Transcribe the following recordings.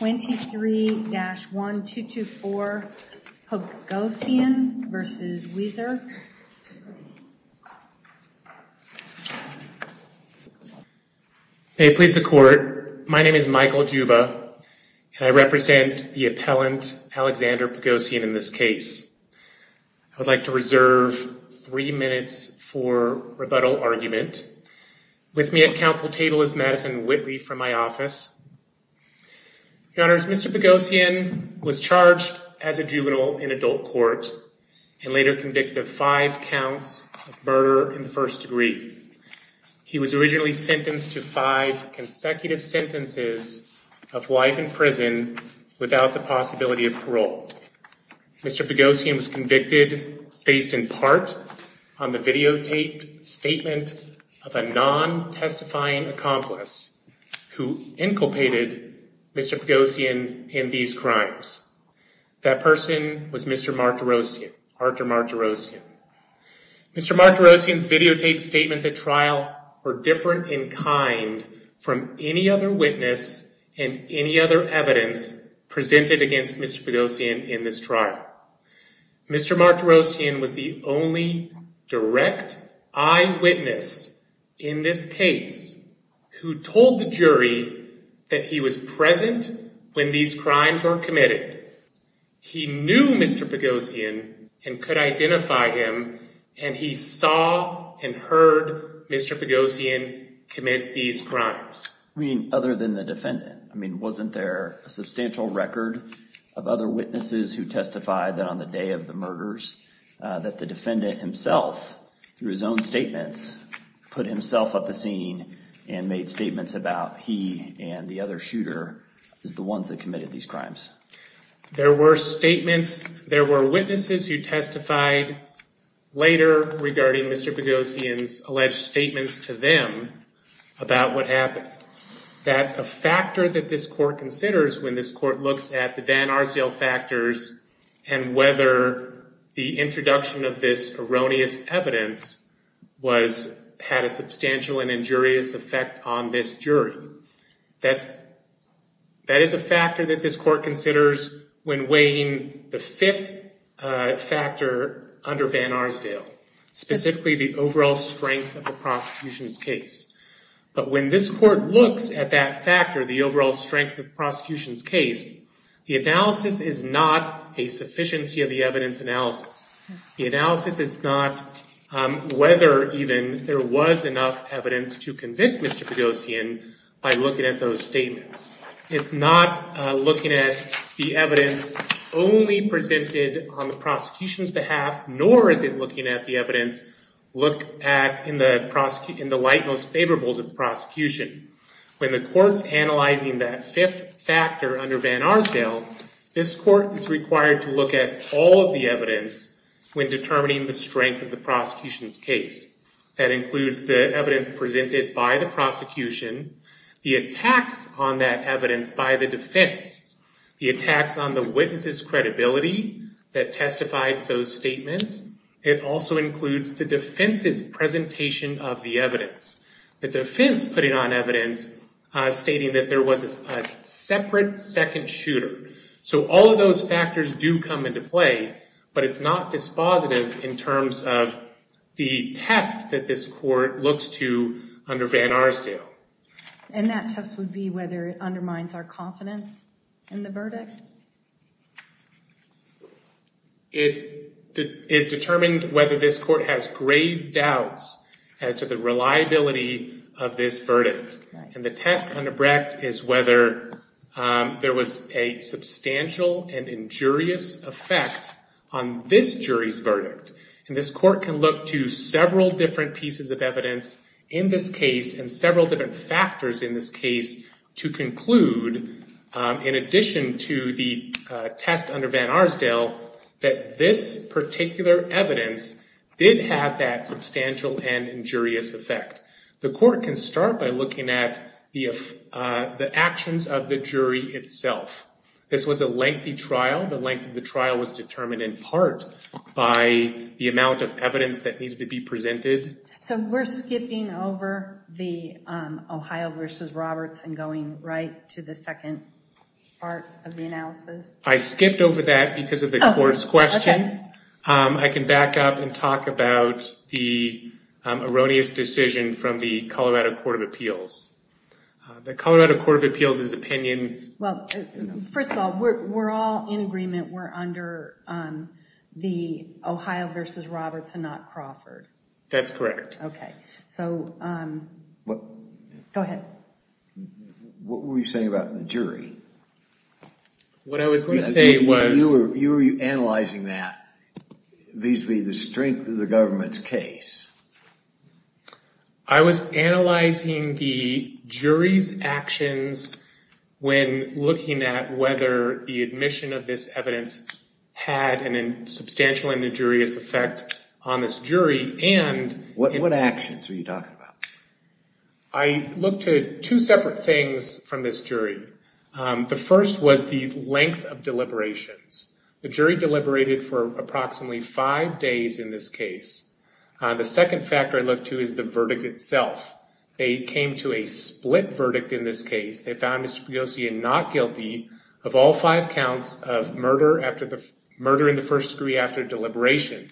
23-1224 Pogosyan v. Weiser Please the court. My name is Michael Juba and I represent the appellant Alexander Pogosyan in this case. I would like to reserve three minutes for rebuttal argument. With me at counsel table is Madison Whitley from my office. Your honors, Mr. Pogosyan was charged as a juvenile in adult court and later convicted of five counts of murder in the first degree. He was originally sentenced to five consecutive sentences of life in prison without the possibility of parole. Mr. Pogosyan was convicted based in part on the videotaped statement of a non-testifying accomplice who inculpated Mr. Pogosyan in these crimes. That person was Mr. Mark DeRosian, Arthur Mark DeRosian. Mr. Mark DeRosian's videotaped statements at trial were different in kind from any other witness and any evidence presented against Mr. Pogosyan in this trial. Mr. Mark DeRosian was the only direct eyewitness in this case who told the jury that he was present when these crimes were committed. He knew Mr. Pogosyan and could identify him and he saw and heard Mr. Pogosyan commit these crimes. I mean other than the defendant I mean wasn't there a substantial record of other witnesses who testified that on the day of the murders that the defendant himself through his own statements put himself up the scene and made statements about he and the other shooter is the ones that committed these crimes. There were statements, there were witnesses who testified later regarding Mr. Pogosyan's alleged statements to them about what happened. That's a factor that this court considers when this court looks at the Van Arsdale factors and whether the introduction of this erroneous evidence was had a substantial and injurious effect on this jury. That's that is a factor that this court considers when weighing the fifth factor under Van Arsdale, specifically the overall strength of the prosecution's case. But when this court looks at that factor, the overall strength of prosecution's case, the analysis is not a sufficiency of the evidence analysis. The analysis is not whether even there was enough evidence to convict Mr. Pogosyan by looking at those statements. It's not looking at the evidence only presented on the prosecution's behalf nor is it looking at the evidence looked at in the light most favorable to the prosecution. When the court's analyzing that fifth factor under Van Arsdale, this court is required to look at all of the evidence when determining the strength of the prosecution's case. That includes the evidence presented by the prosecution, the attacks on that evidence by the defense, the attacks on the witnesses credibility that testified those evidence. The defense putting on evidence stating that there was a separate second shooter. So all of those factors do come into play but it's not dispositive in terms of the test that this court looks to under Van Arsdale. And that test would be whether it undermines our confidence in the verdict? It is determined whether this court has grave doubts as to the reliability of this verdict. And the test under Brecht is whether there was a substantial and injurious effect on this jury's verdict. And this court can look to several different pieces of evidence in this case and several different factors in this case to conclude, in addition to the test under Van Arsdale, that this particular evidence did have that substantial and injurious effect. The court can start by looking at the actions of the jury itself. This was a lengthy trial. The length of the trial was determined in part by the amount of evidence that needed to be presented. So we're skipping over the Ohio versus Roberts and going right to the second part of the analysis? I skipped over that because of the court's question. I can back up and talk about the erroneous decision from the Colorado Court of Appeals. The Colorado Court of Appeals is opinion... Well, first of all, we're all in agreement we're under the Ohio versus Roberts and not Crawford. That's correct. Okay, so go ahead. What were you saying about the jury? What I was going to say was... You were analyzing that vis-a-vis the strength of the government's case. I was analyzing the jury's actions when looking at whether the admission of this evidence had a substantial and erroneous effect on this jury. What actions were you talking about? I looked at two separate things from this jury. The first was the length of deliberations. The jury deliberated for approximately five days in this case. The second factor I looked to is the verdict itself. They came to a split verdict in this case. They found Mr. Pagosian not guilty of all five counts of murder in the first degree after deliberation.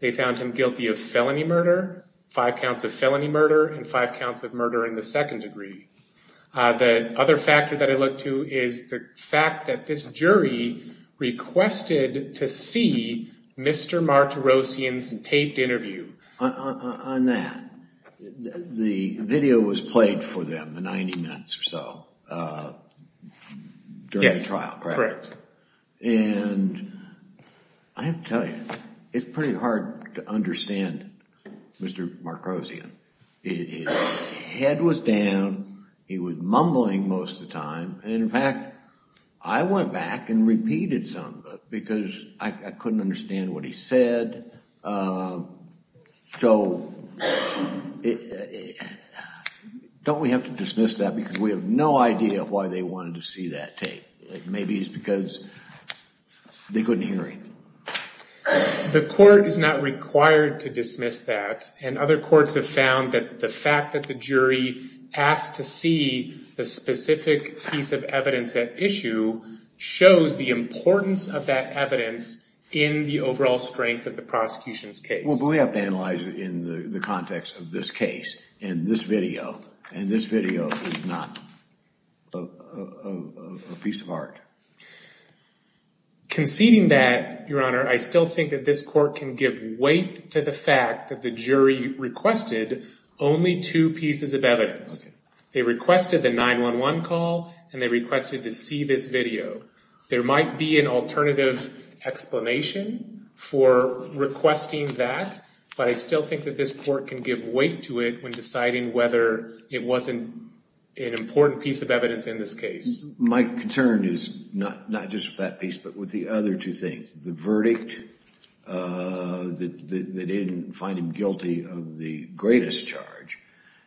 They found him guilty of felony murder, five counts of felony murder, and five counts of murder in the second degree. The other factor that I looked to is the fact that this jury requested to see Mr. Martirosian's taped interview. On that, the video was played for them, the 90 minutes or so, during the trial. I have to tell you, it's pretty hard to understand Mr. Martirosian. His head was down, he was mumbling most of the time, and in fact I went back and repeated some of it because I couldn't understand what he said. So don't we have to dismiss that because we have no idea why they wanted to see that tape. Maybe it's because they couldn't hear him. The court is not required to dismiss that, and other courts have found that the fact that the jury asked to see a specific piece of evidence at issue shows the importance of that evidence in the overall strength of the prosecution's case. We have to analyze it in the context of this case, in this video is not a piece of art. Conceding that, your honor, I still think that this court can give weight to the fact that the jury requested only two pieces of evidence. They requested the 911 call, and they requested to see this video. There might be an alternative explanation for requesting that, but I still think that this court can give weight to it when deciding whether it wasn't an important piece of evidence in this case. My concern is not just that piece, but with the other two things. The verdict, that they didn't find him guilty of the greatest charge,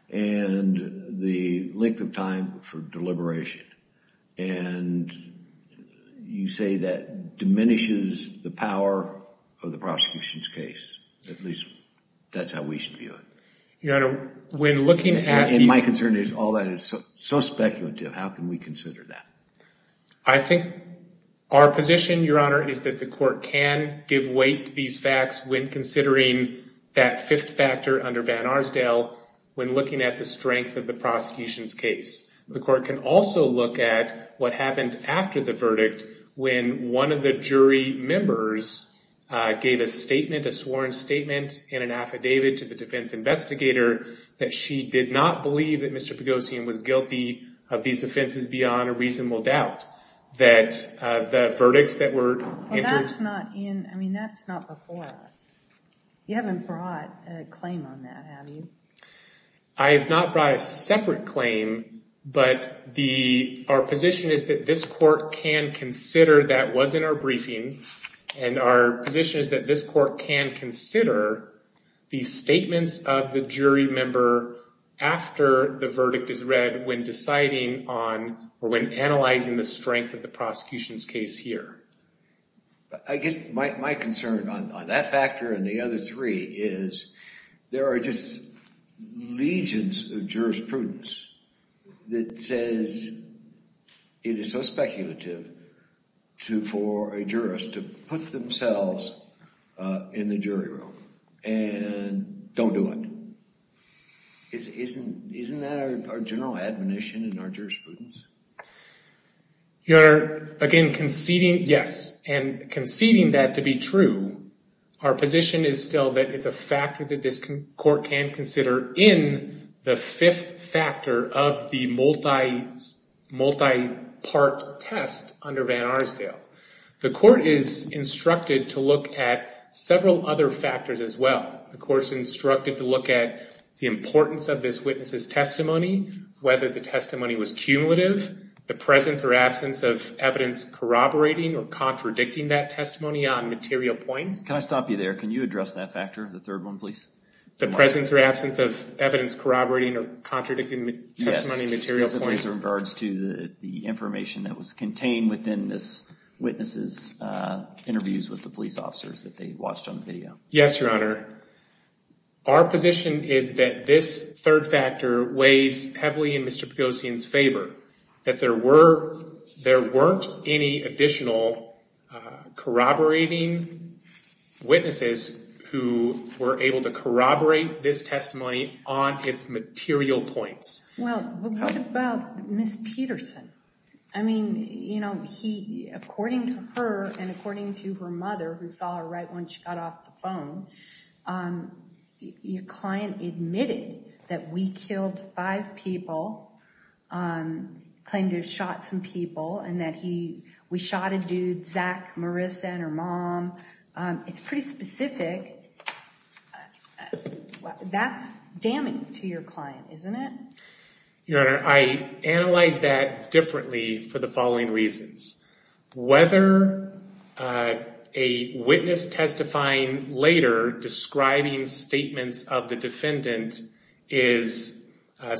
and the length of time for deliberation. And you say that diminishes the power of the prosecution's case. At least, that's how we should view it. Your honor, when looking at the- And my concern is all that is so speculative, how can we consider that? I think our position, your honor, is that the court can give weight to these facts when considering that fifth factor under Van Arsdale, when looking at the strength of the prosecution's case. The court can also look at what happened after the members gave a statement, a sworn statement, in an affidavit to the defense investigator that she did not believe that Mr. Pagosian was guilty of these offenses beyond a reasonable doubt. That the verdicts that were- Well, that's not in- I mean, that's not before us. You haven't brought a claim on that, have you? I have not brought a separate claim, but our position is that this court can consider, that was in our briefing, and our position is that this court can consider the statements of the jury member after the verdict is read when deciding on, or when analyzing the strength of the prosecution's case here. I guess my concern on that factor and the other three is there are just legions of jurisprudence that says it is so speculative for a jurist to put themselves in the jury room and don't do it. Isn't that our general admonition in our jurisprudence? Your honor, again, conceding, yes, and conceding that to be true, our position is still that it's a factor that this court can consider in the fifth factor of the multi-part test under Van Arsdale. The court is instructed to look at several other factors as well. The court's instructed to look at the importance of this witness's testimony, whether the testimony was cumulative, the presence or absence of evidence corroborating or contradicting that testimony on material points. Can I stop you there? Can you address that factor, the third one, please? The presence or absence of evidence corroborating or contradicting testimony on material points. Yes, specifically in regards to the information that was contained within this witness's interviews with the police officers that they watched on the video. Yes, your honor. Our position is that this third factor weighs heavily in Mr. Pagosian's favor, that there weren't any additional corroborating witnesses who were able to corroborate this testimony on its material points. Well, what about Ms. Peterson? I mean, according to her and according to her mother, who saw her right when she got off the phone, your client admitted that we killed five people, claimed to have shot some people, and that we shot a dude, Zach, Marissa, and her mom. It's pretty specific. That's damning to your client, isn't it? Your honor, I analyze that differently for the following reasons. Whether a fact is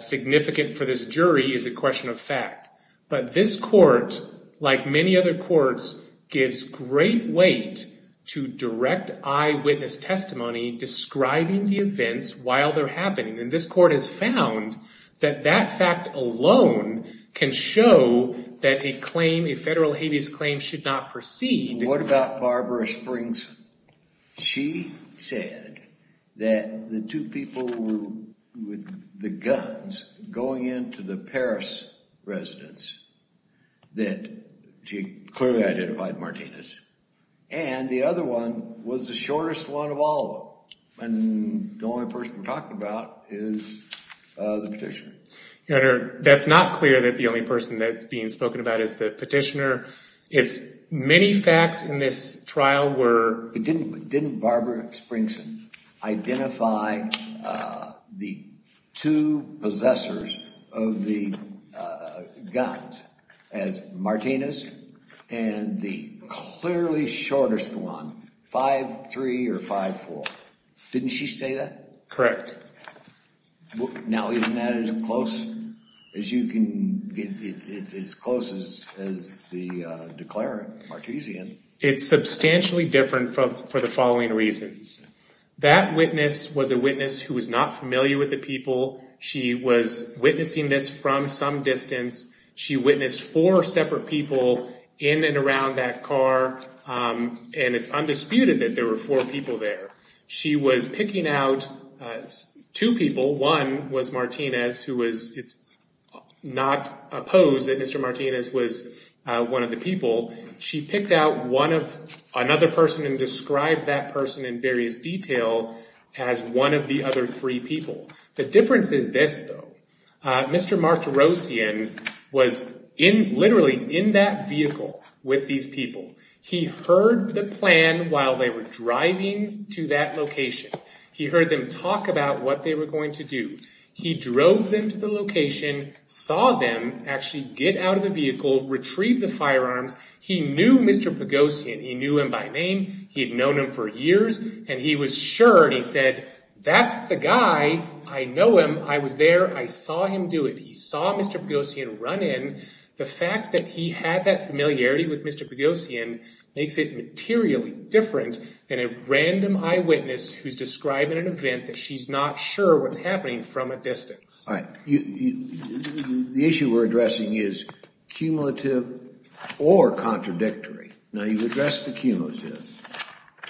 significant for this jury is a question of fact. But this court, like many other courts, gives great weight to direct eyewitness testimony describing the events while they're happening. And this court has found that that fact alone can show that a claim, a federal habeas claim, should not proceed. What about Barbara Springs? She said that the two people with the guns going into the Paris residence that she clearly identified Martinez. And the other one was the shortest one of all of them. And the only person we're talking about is the petitioner. Your honor, that's not clear that the only person that's being spoken about is the petitioner. Many facts in this trial were... But didn't Barbara Springs identify the two possessors of the guns as Martinez and the clearly shortest one, 5-3 or 5-4? Didn't she say that? Correct. Now isn't that as close as you can... It's as close as the declarant, Martizian. It's substantially different for the following reasons. That witness was a witness who was not familiar with the people. She was witnessing this from some distance. She witnessed four separate people in and around that car. And it's undisputed that there were four people there. She was picking out two people. One was Martinez, who was... It's not opposed that Mr. Martinez was one of the people. She picked out one of... Another person and described that person in various detail as one of the other three people. The difference is this, though. Mr. Martizian was literally in that vehicle with these people. He heard the plan while they were driving to that location. He heard them talk about what they were going to do. He drove them to the location, saw them actually get out of the vehicle, retrieve the firearms. He knew Mr. Pagosian. He knew him by name. He had known him for years. And he was sure. And he said, that's the guy. I know him. I was there. I saw him do it. He saw Mr. Pagosian run in. The fact that he had that familiarity with Mr. Pagosian makes it materially different than a random eyewitness who's describing an event that she's not sure what's happening from a distance. All right. The issue we're addressing is cumulative or contradictory. Now, you've addressed the cumulative.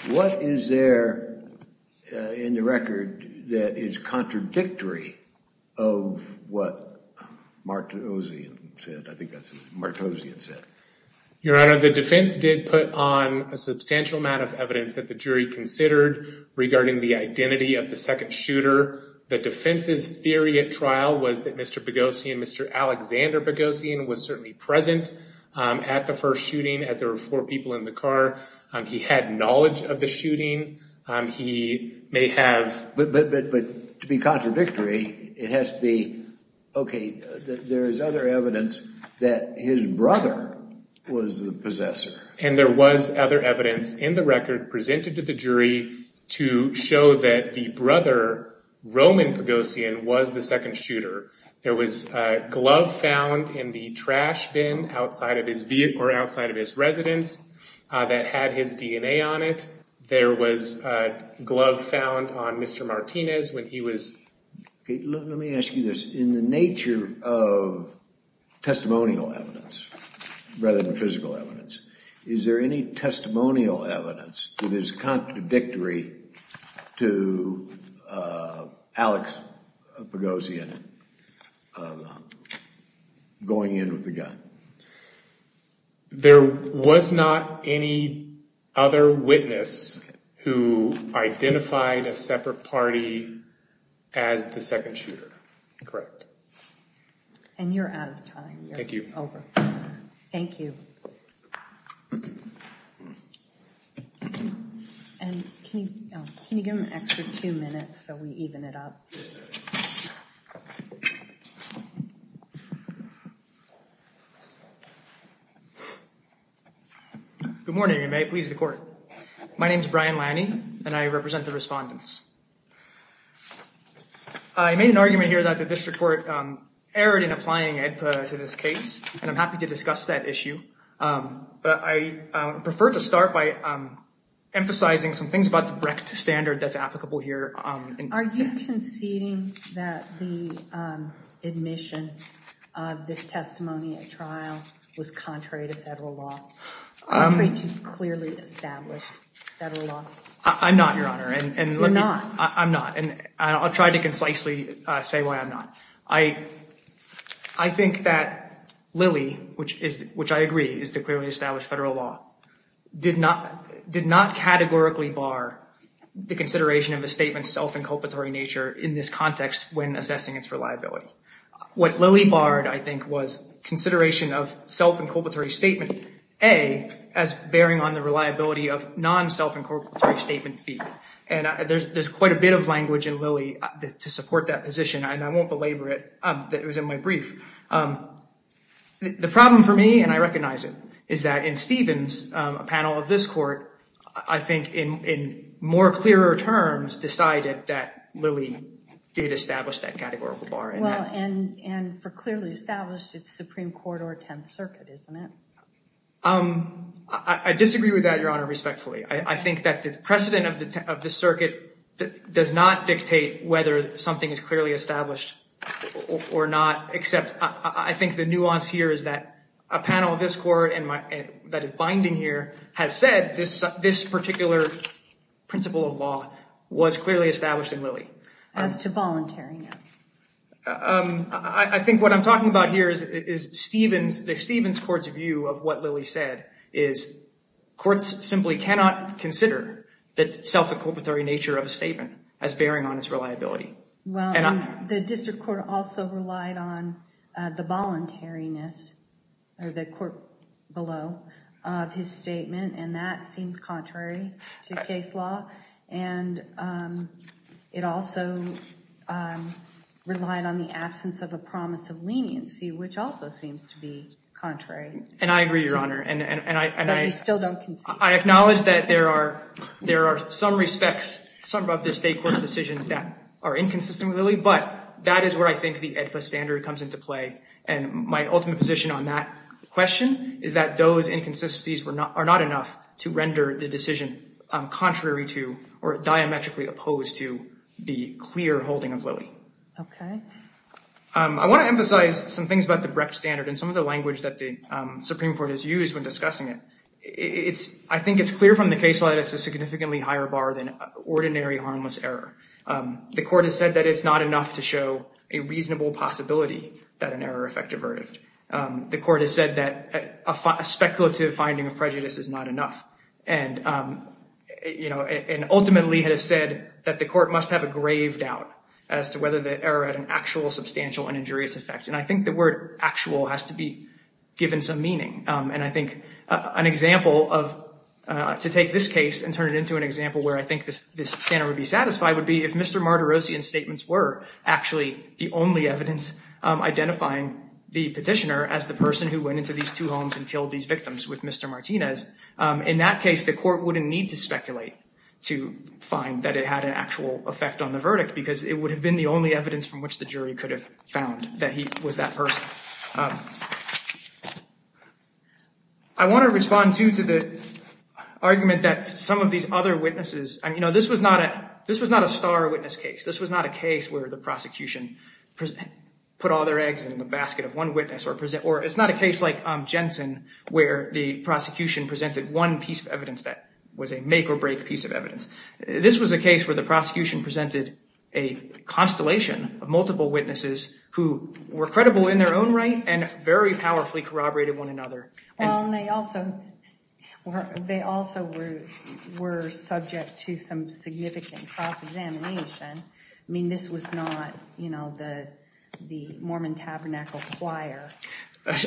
What is there in the record that is contradictory of what Martizian said? I think that's what Martizian said. Your Honor, the defense did put on a substantial amount of evidence that the jury heard regarding the identity of the second shooter. The defense's theory at trial was that Mr. Pagosian, Mr. Alexander Pagosian, was certainly present at the first shooting as there were four people in the car. He had knowledge of the shooting. He may have... But to be contradictory, it has to be, okay, there is other evidence that his brother was the possessor. And there was other evidence in the record presented to the jury to show that the brother, Roman Pagosian, was the second shooter. There was a glove found in the trash bin outside of his vehicle or outside of his residence that had his DNA on it. There was a glove found on Mr. Martinez when he was... Okay, let me ask you this. In the nature of testimonial evidence rather than is there any testimonial evidence that is contradictory to Alex Pagosian going in with the gun? There was not any other witness who identified a separate party as the second shooter. Correct. And you're out of time. Thank you. Over. Thank you. And can you give him an extra two minutes so we even it up? Good morning and may it please the court. My name is Brian Lanny and I represent the respondents. I made an argument here that the district court erred in applying EDPA to this case. And I'm happy to discuss that issue. But I prefer to start by emphasizing some things about the Brecht standard that's applicable here. Are you conceding that the admission of this testimony at trial was contrary to federal law? Contrary to clearly established federal law? I'm not, Your Honor. You're not. I'm not. And I'll try to concisely say why I'm not. I think that Lilly, which I agree is the clearly established federal law, did not categorically bar the consideration of a statement's self-inculpatory nature in this context when assessing its reliability. What Lilly barred, I think, was consideration of self-inculpatory statement A as bearing on the reliability of non-self-inculpatory statement B. And there's quite a bit of language in Lilly to support that position. And I won't belabor it, that it was in my brief. The problem for me, and I recognize it, is that in Stevens, a panel of this court, I think in more clearer terms decided that Lilly did establish that categorical bar. Well, and for clearly established, it's Supreme Court or Tenth Circuit, isn't it? I disagree with that, Your Honor, respectfully. I think that the precedent of the Circuit does not dictate whether something is clearly established or not, except I think the nuance here is that a panel of this court that is binding here has said this particular principle of law was clearly established in Lilly. As to voluntary, no. I think what I'm talking about here is Stevens, the Stevens court's view of what consider the self-inculpatory nature of a statement as bearing on its reliability. Well, the district court also relied on the voluntariness or the court below of his statement, and that seems contrary to case law. And it also relied on the absence of a promise of leniency, which also seems to be contrary. And I agree, Your Honor. And I still don't concede. I acknowledge that there are some respects, some of the state court's decisions that are inconsistent with Lilly, but that is where I think the AEDPA standard comes into play. And my ultimate position on that question is that those inconsistencies are not enough to render the decision contrary to or diametrically opposed to the clear holding of Lilly. Okay. I want to emphasize some things about the Brecht standard and some of the language that the Supreme Court has used when discussing it. I think it's clear from the case law that it's a significantly higher bar than ordinary harmless error. The court has said that it's not enough to show a reasonable possibility that an error effect averted. The court has said that a speculative finding of prejudice is not enough. And, you know, and ultimately has said that the court must have a grave doubt as to whether the error had an actual substantial and injurious effect. And I think the word actual has to be given some meaning. And I think an example of to take this case and turn it into an example where I think this standard would be satisfied would be if Mr. Martirosian's statements were actually the only evidence identifying the petitioner as the person who went into these two homes and killed these victims with Mr. Martinez. In that case, the court wouldn't need to speculate to find that it had an actual effect on the verdict because it would have been the only evidence from which the jury could have found that he was that person. I want to respond to the argument that some of these other witnesses, you know, this was not a this was not a star witness case. This was not a case where the prosecution put all their eggs in the basket of one witness or present or it's not a case like Jensen, where the prosecution presented one piece of evidence that was a make or break piece of evidence. This was a case where the prosecution presented a constellation of multiple witnesses who were credible in their own right and very powerfully corroborated one another. Well, and they also were they also were were subject to some significant cross examination. I mean, this was not, you know, the the Mormon Tabernacle Choir.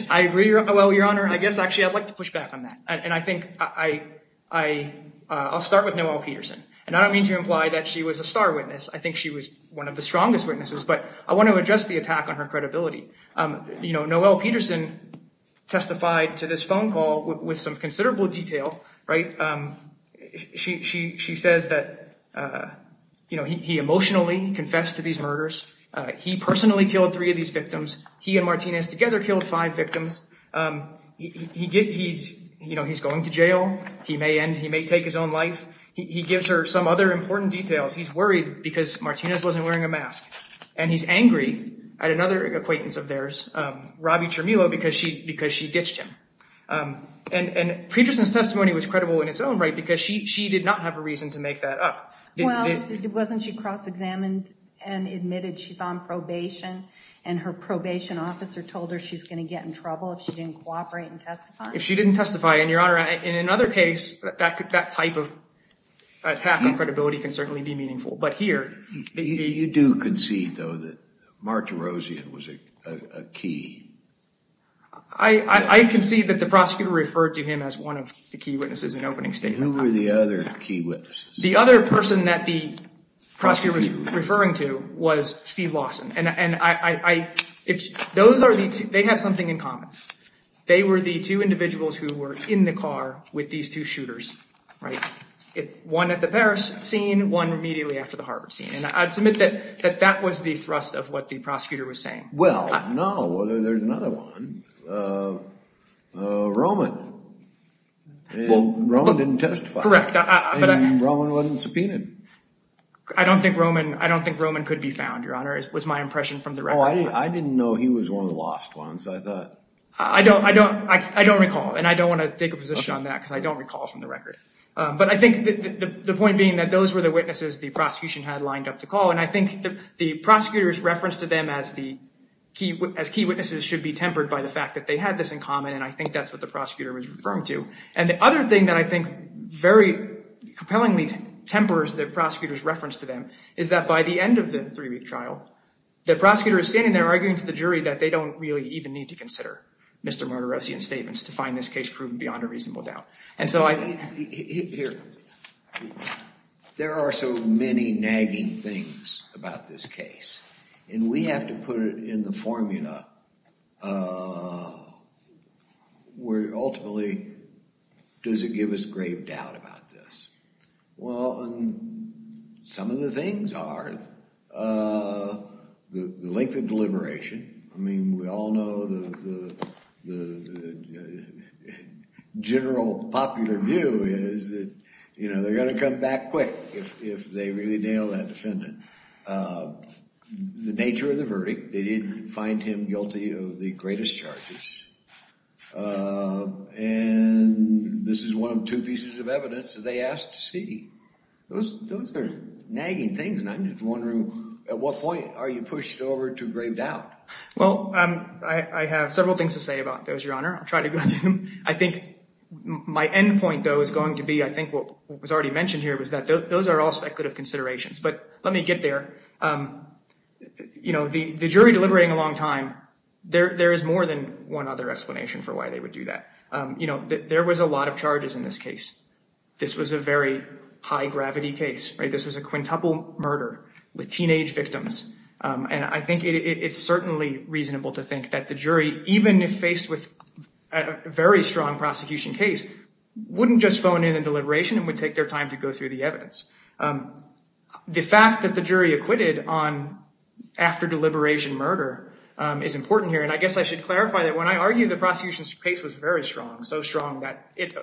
I agree. Well, Your Honor, I guess actually I'd like to push back on that. And I think I I I'll start with Noelle Peterson. And I don't mean to imply that she was a star witness. I think she was one of the strongest witnesses. But I want to address the attack on her credibility. You know, Noelle Peterson testified to this phone call with some considerable detail. Right. She she she says that, you know, he emotionally confessed to these murders. He personally killed three of these victims. He and Martinez together killed five victims. He he's you know, he's going to jail. He may end he may take his own life. He gives her some other important details. He's worried because Martinez wasn't wearing a mask and he's angry at another acquaintance of theirs, Robbie Chermilo, because she because she ditched him. And Peterson's testimony was credible in its own right because she she did not have a reason to make that up. Well, wasn't she cross examined and admitted she's on probation and her probation officer told her she's going to get in trouble if she didn't cooperate and testify? If she didn't testify. And, Your Honor, in another case, that could that type of attack on credibility can certainly be meaningful. But here, you do concede, though, that Mark DeRozan was a key. I concede that the prosecutor referred to him as one of the key witnesses in opening statement. Who were the other key witnesses? The other person that the prosecutor was referring to was Steve Lawson. And I if those are the two, they had something in common. They were the two individuals who were in the car with these two shooters. Right. One at the Paris scene, one immediately after the Harvard scene. And I'd submit that that that was the thrust of what the prosecutor was saying. Well, no. Well, there's another one. Roman. Roman didn't testify. Correct. But Roman wasn't subpoenaed. I don't think Roman I don't think Roman could be found, Your Honor, was my impression from the record. I didn't know he was one of the lost ones. I don't I don't I don't recall. And I don't want to take a position on that because I don't recall from the record. But I think the point being that those were the witnesses the prosecution had lined up to call. And I think the prosecutor's reference to them as the key as key witnesses should be tempered by the fact that they had this in common. And I think that's what the prosecutor was referring to. And the other thing that I think very compellingly tempers the prosecutor's reference to them is that by the end of the three week trial, the prosecutor is standing there arguing to the jury that they don't really even need to consider Mr. Martirosian's statements to find this case proven beyond a reasonable doubt. And so I think here there are so many nagging things about this case and we have to put it in the formula where ultimately does it give us grave doubt about this? Well, some of the things are the length of deliberation. I mean, we all know the general popular view is that, you know, they're going to come back quick if they really nail that defendant. The nature of the verdict, they didn't find him guilty of the greatest charges. And this is one of two pieces of evidence that they asked to see. Those are nagging things. And I'm just wondering, at what point are you pushed over to grave doubt? Well, I have several things to say about those, Your Honor. I'll try to go through them. I think my end point, though, is going to be, I think what was already mentioned here was that those are all speculative considerations. But let me get there. You know, the jury deliberating a long time, there is more than one other explanation for why they would do that. You know, there was a lot of charges in this case. This was a very high gravity case. This was a quintuple murder with teenage victims. And I think it's certainly reasonable to think that the jury, even if faced with a very strong prosecution case, wouldn't just phone in a deliberation and would take their time to go through the evidence. The fact that the jury acquitted on after deliberation murder is important here. And I guess I should clarify that when I argue the prosecution's case was very strong, so strong that it,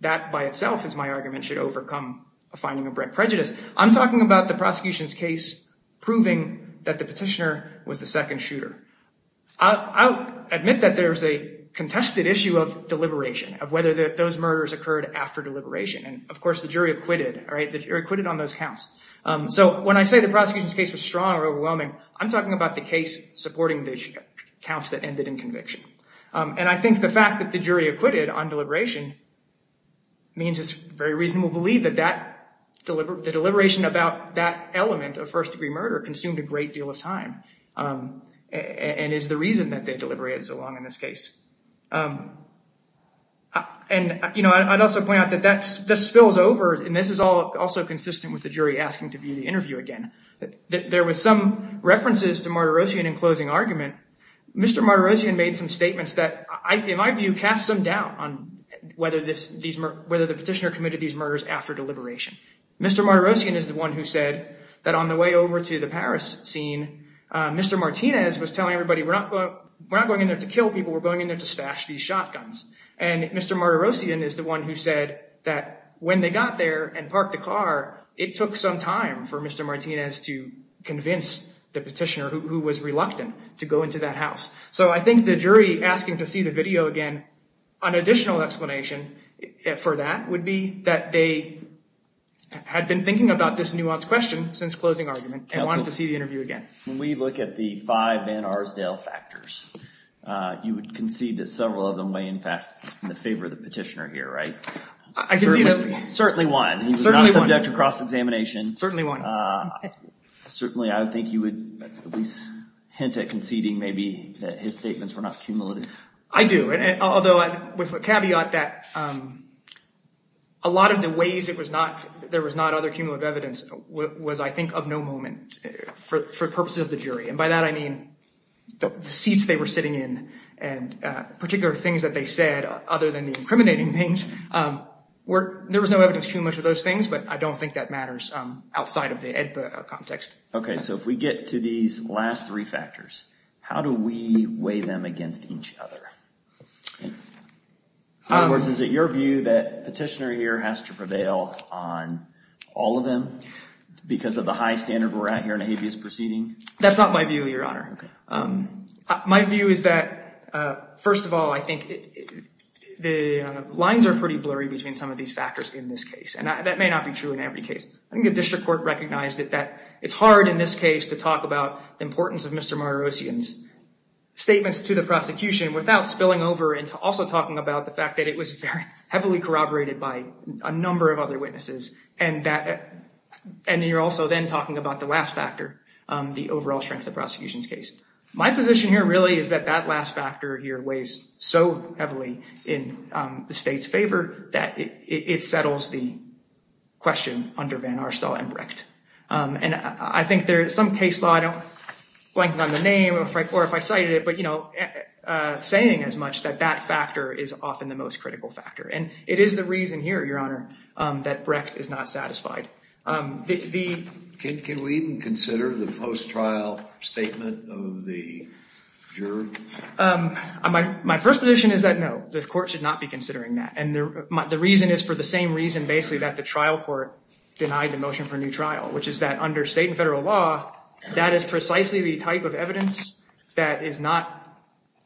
that by itself is my argument, should overcome a finding of brent prejudice. I'm talking about the prosecution's case proving that the petitioner was the second shooter. I'll admit that there is a contested issue of deliberation, of whether those murders occurred after deliberation. And of course, the jury acquitted, right? The jury acquitted on those counts. So when I say the prosecution's case was strong or overwhelming, I'm talking about the case supporting the counts that ended in conviction. And I think the fact that the jury acquitted on deliberation means it's very reasonable to believe that the deliberation about that element of first degree murder consumed a great deal of time and is the reason that they deliberated so long in this case. And, you know, I'd also point out that this spills over, and this is all also consistent with the jury asking to view the interview again, that there was some references to Martirosian in closing argument, Mr. Martirosian made some statements that, in my view, cast some doubt on whether these, whether the petitioner committed these murders after deliberation. Mr. Martirosian is the one who said that on the way over to the Paris scene, Mr. Martinez was telling everybody, we're not going in there to kill people, we're going in there to stash these shotguns. And Mr. Martirosian is the one who said that when they got there and parked the car, it took some time for Mr. Martinez to convince the petitioner, who was reluctant to go into that house. So I think the jury asking to see the video again, an additional explanation for that would be that they had been thinking about this nuanced question since closing argument and wanted to see the interview again. When we look at the five Van Arsdale factors, you would concede that several of them may in fact be in favor of the petitioner here, right? I can see that. Certainly one. He was not subject to cross-examination. Certainly one. Certainly, I would think you would at least hint at conceding maybe that his statements were not cumulative. I do. Although with a caveat that a lot of the ways it was not, there was not other cumulative evidence was, I think, of no moment for purposes of the jury. And by that, I mean, the seats they were sitting in and particular things that they said, other than the incriminating things, there was no evidence too much of those things. But I don't think that matters outside of the AEDPA context. Okay. So if we get to these last three factors, how do we weigh them against each other? In other words, is it your view that a petitioner here has to prevail on all of them because of the high standard we're at here in a habeas proceeding? That's not my view, Your Honor. My view is that, first of all, I think the lines are pretty blurry between some of these factors in this case. And that may not be true in every case. I think the district court recognized that it's hard in this case to talk about the importance of Mr. Marosian's statements to the prosecution without spilling over into also talking about the fact that it was very heavily corroborated by a number of other witnesses. And you're also then talking about the last factor, the overall strength of the prosecution's case. My position here really is that that last factor here weighs so heavily in the state's favor that it settles the question under Van Arstal and Brecht. And I think there is some case law, I don't blank on the name or if I cited it, but, you know, saying as much that that factor is often the most critical factor. And it is the reason here, Your Honor, that Brecht is not satisfied. Can we even consider the post-trial statement of the juror? My first position is that, no, the court should not be considering that. And the reason is for the same reason, basically, that the trial court denied the motion for a new trial, which is that under state and federal law, that is precisely the type of evidence that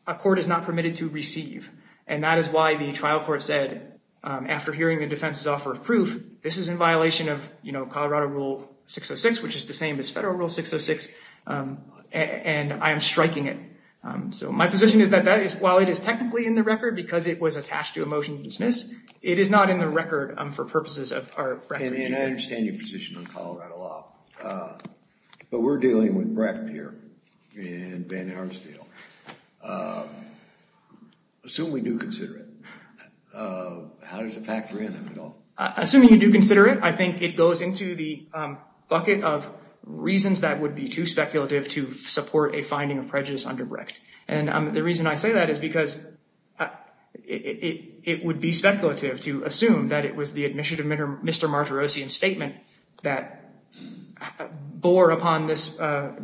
a court is not permitted to receive. And that is why the trial court said, after hearing the defense's offer of proof, this is in violation of, you know, Colorado Rule 606, which is the same as federal Rule 606. And I am striking it. So my position is that that is, while it is technically in the record because it was attached to a motion to dismiss, it is not in the record for purposes of our record. And I understand your position on Colorado law. But we're dealing with Brecht here and Van Arstal. Assuming we do consider it, how does it factor in, if at all? Assuming you do consider it, I think it goes into the bucket of reasons that would be too speculative to support a finding of prejudice under Brecht. And the reason I say that is because it would be speculative to assume that it was the admission of Mr. Martirosian's statement that bore upon this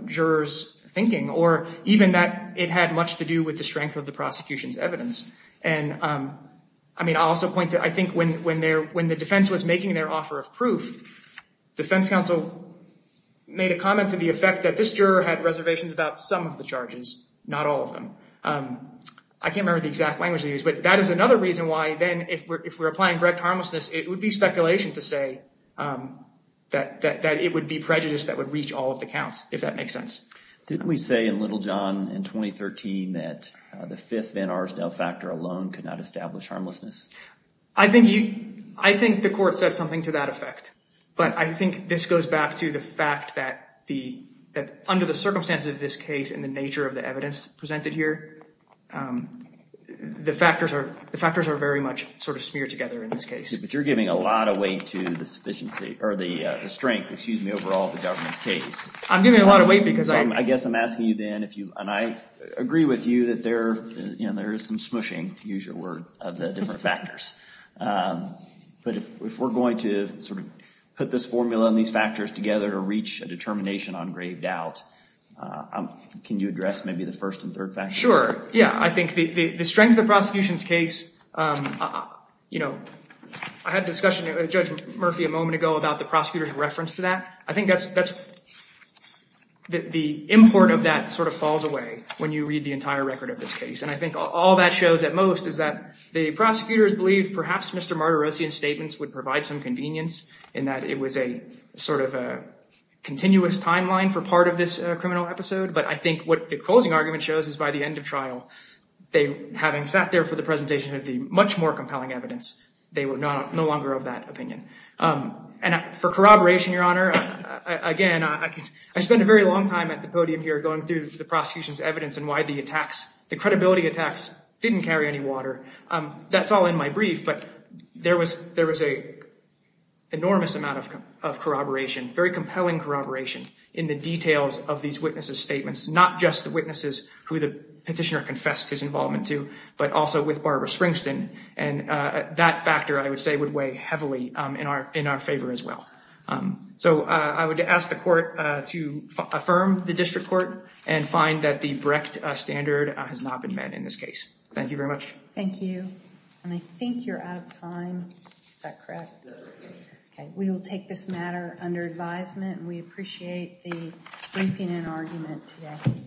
juror's thinking, or even that it had much to do with the strength of the prosecution's evidence. And I mean, I'll also point to, I think when the defense was making their offer of proof, defense counsel made a comment to the effect that this juror had reservations about some of the charges. Not all of them. I can't remember the exact language they used, but that is another reason why then if we're applying Brecht harmlessness, it would be speculation to say that it would be prejudice that would reach all of the counts, if that makes sense. Didn't we say in Littlejohn in 2013 that the fifth Van Arsdal factor alone could not establish harmlessness? I think you, I think the court said something to that effect. But I think this goes back to the fact that the, that under the circumstances of this case and the nature of the evidence presented here, the factors are, the factors are very much sort of smeared together in this case. But you're giving a lot of weight to the sufficiency or the strength, excuse me, overall of the government's case. I'm giving a lot of weight because I guess I'm asking you then if you, and I agree with you that there, you know, there is some smooshing, to use your word, of the different factors. But if we're going to sort of put this formula and these factors together to reach a determination on grave doubt, can you address maybe the first and third factors? Sure. Yeah, I think the strength of the prosecution's case, you know, I had a discussion with Judge Murphy a moment ago about the prosecutor's reference to that. I think that's, that's, the import of that sort of falls away when you read the entire record of this case. And I think all that shows at most is that the prosecutors believed perhaps Mr. Martirosian's statements would provide some convenience in that it was a sort of a continuous timeline for part of this criminal episode. But I think what the closing argument shows is by the end of trial, they, having sat there for the presentation of the much more compelling evidence, they were no longer of that opinion. And for corroboration, Your Honor, again, I spent a very long time at the podium here going through the prosecution's evidence and why the attacks, the credibility attacks, didn't carry any water. That's all in my brief, but there was, there was a enormous amount of corroboration, very compelling corroboration in the details of these witnesses' statements, not just the witnesses who the petitioner confessed his involvement to, but also with Barbara Springsteen. And that factor, I would say, would weigh heavily in our, in our favor as well. So I would ask the court to affirm the district court and find that the Brecht standard has not been met in this case. Thank you very much. Thank you. And I think you're out of time. Is that correct? Okay, we will take this matter under advisement. We appreciate the briefing and argument today.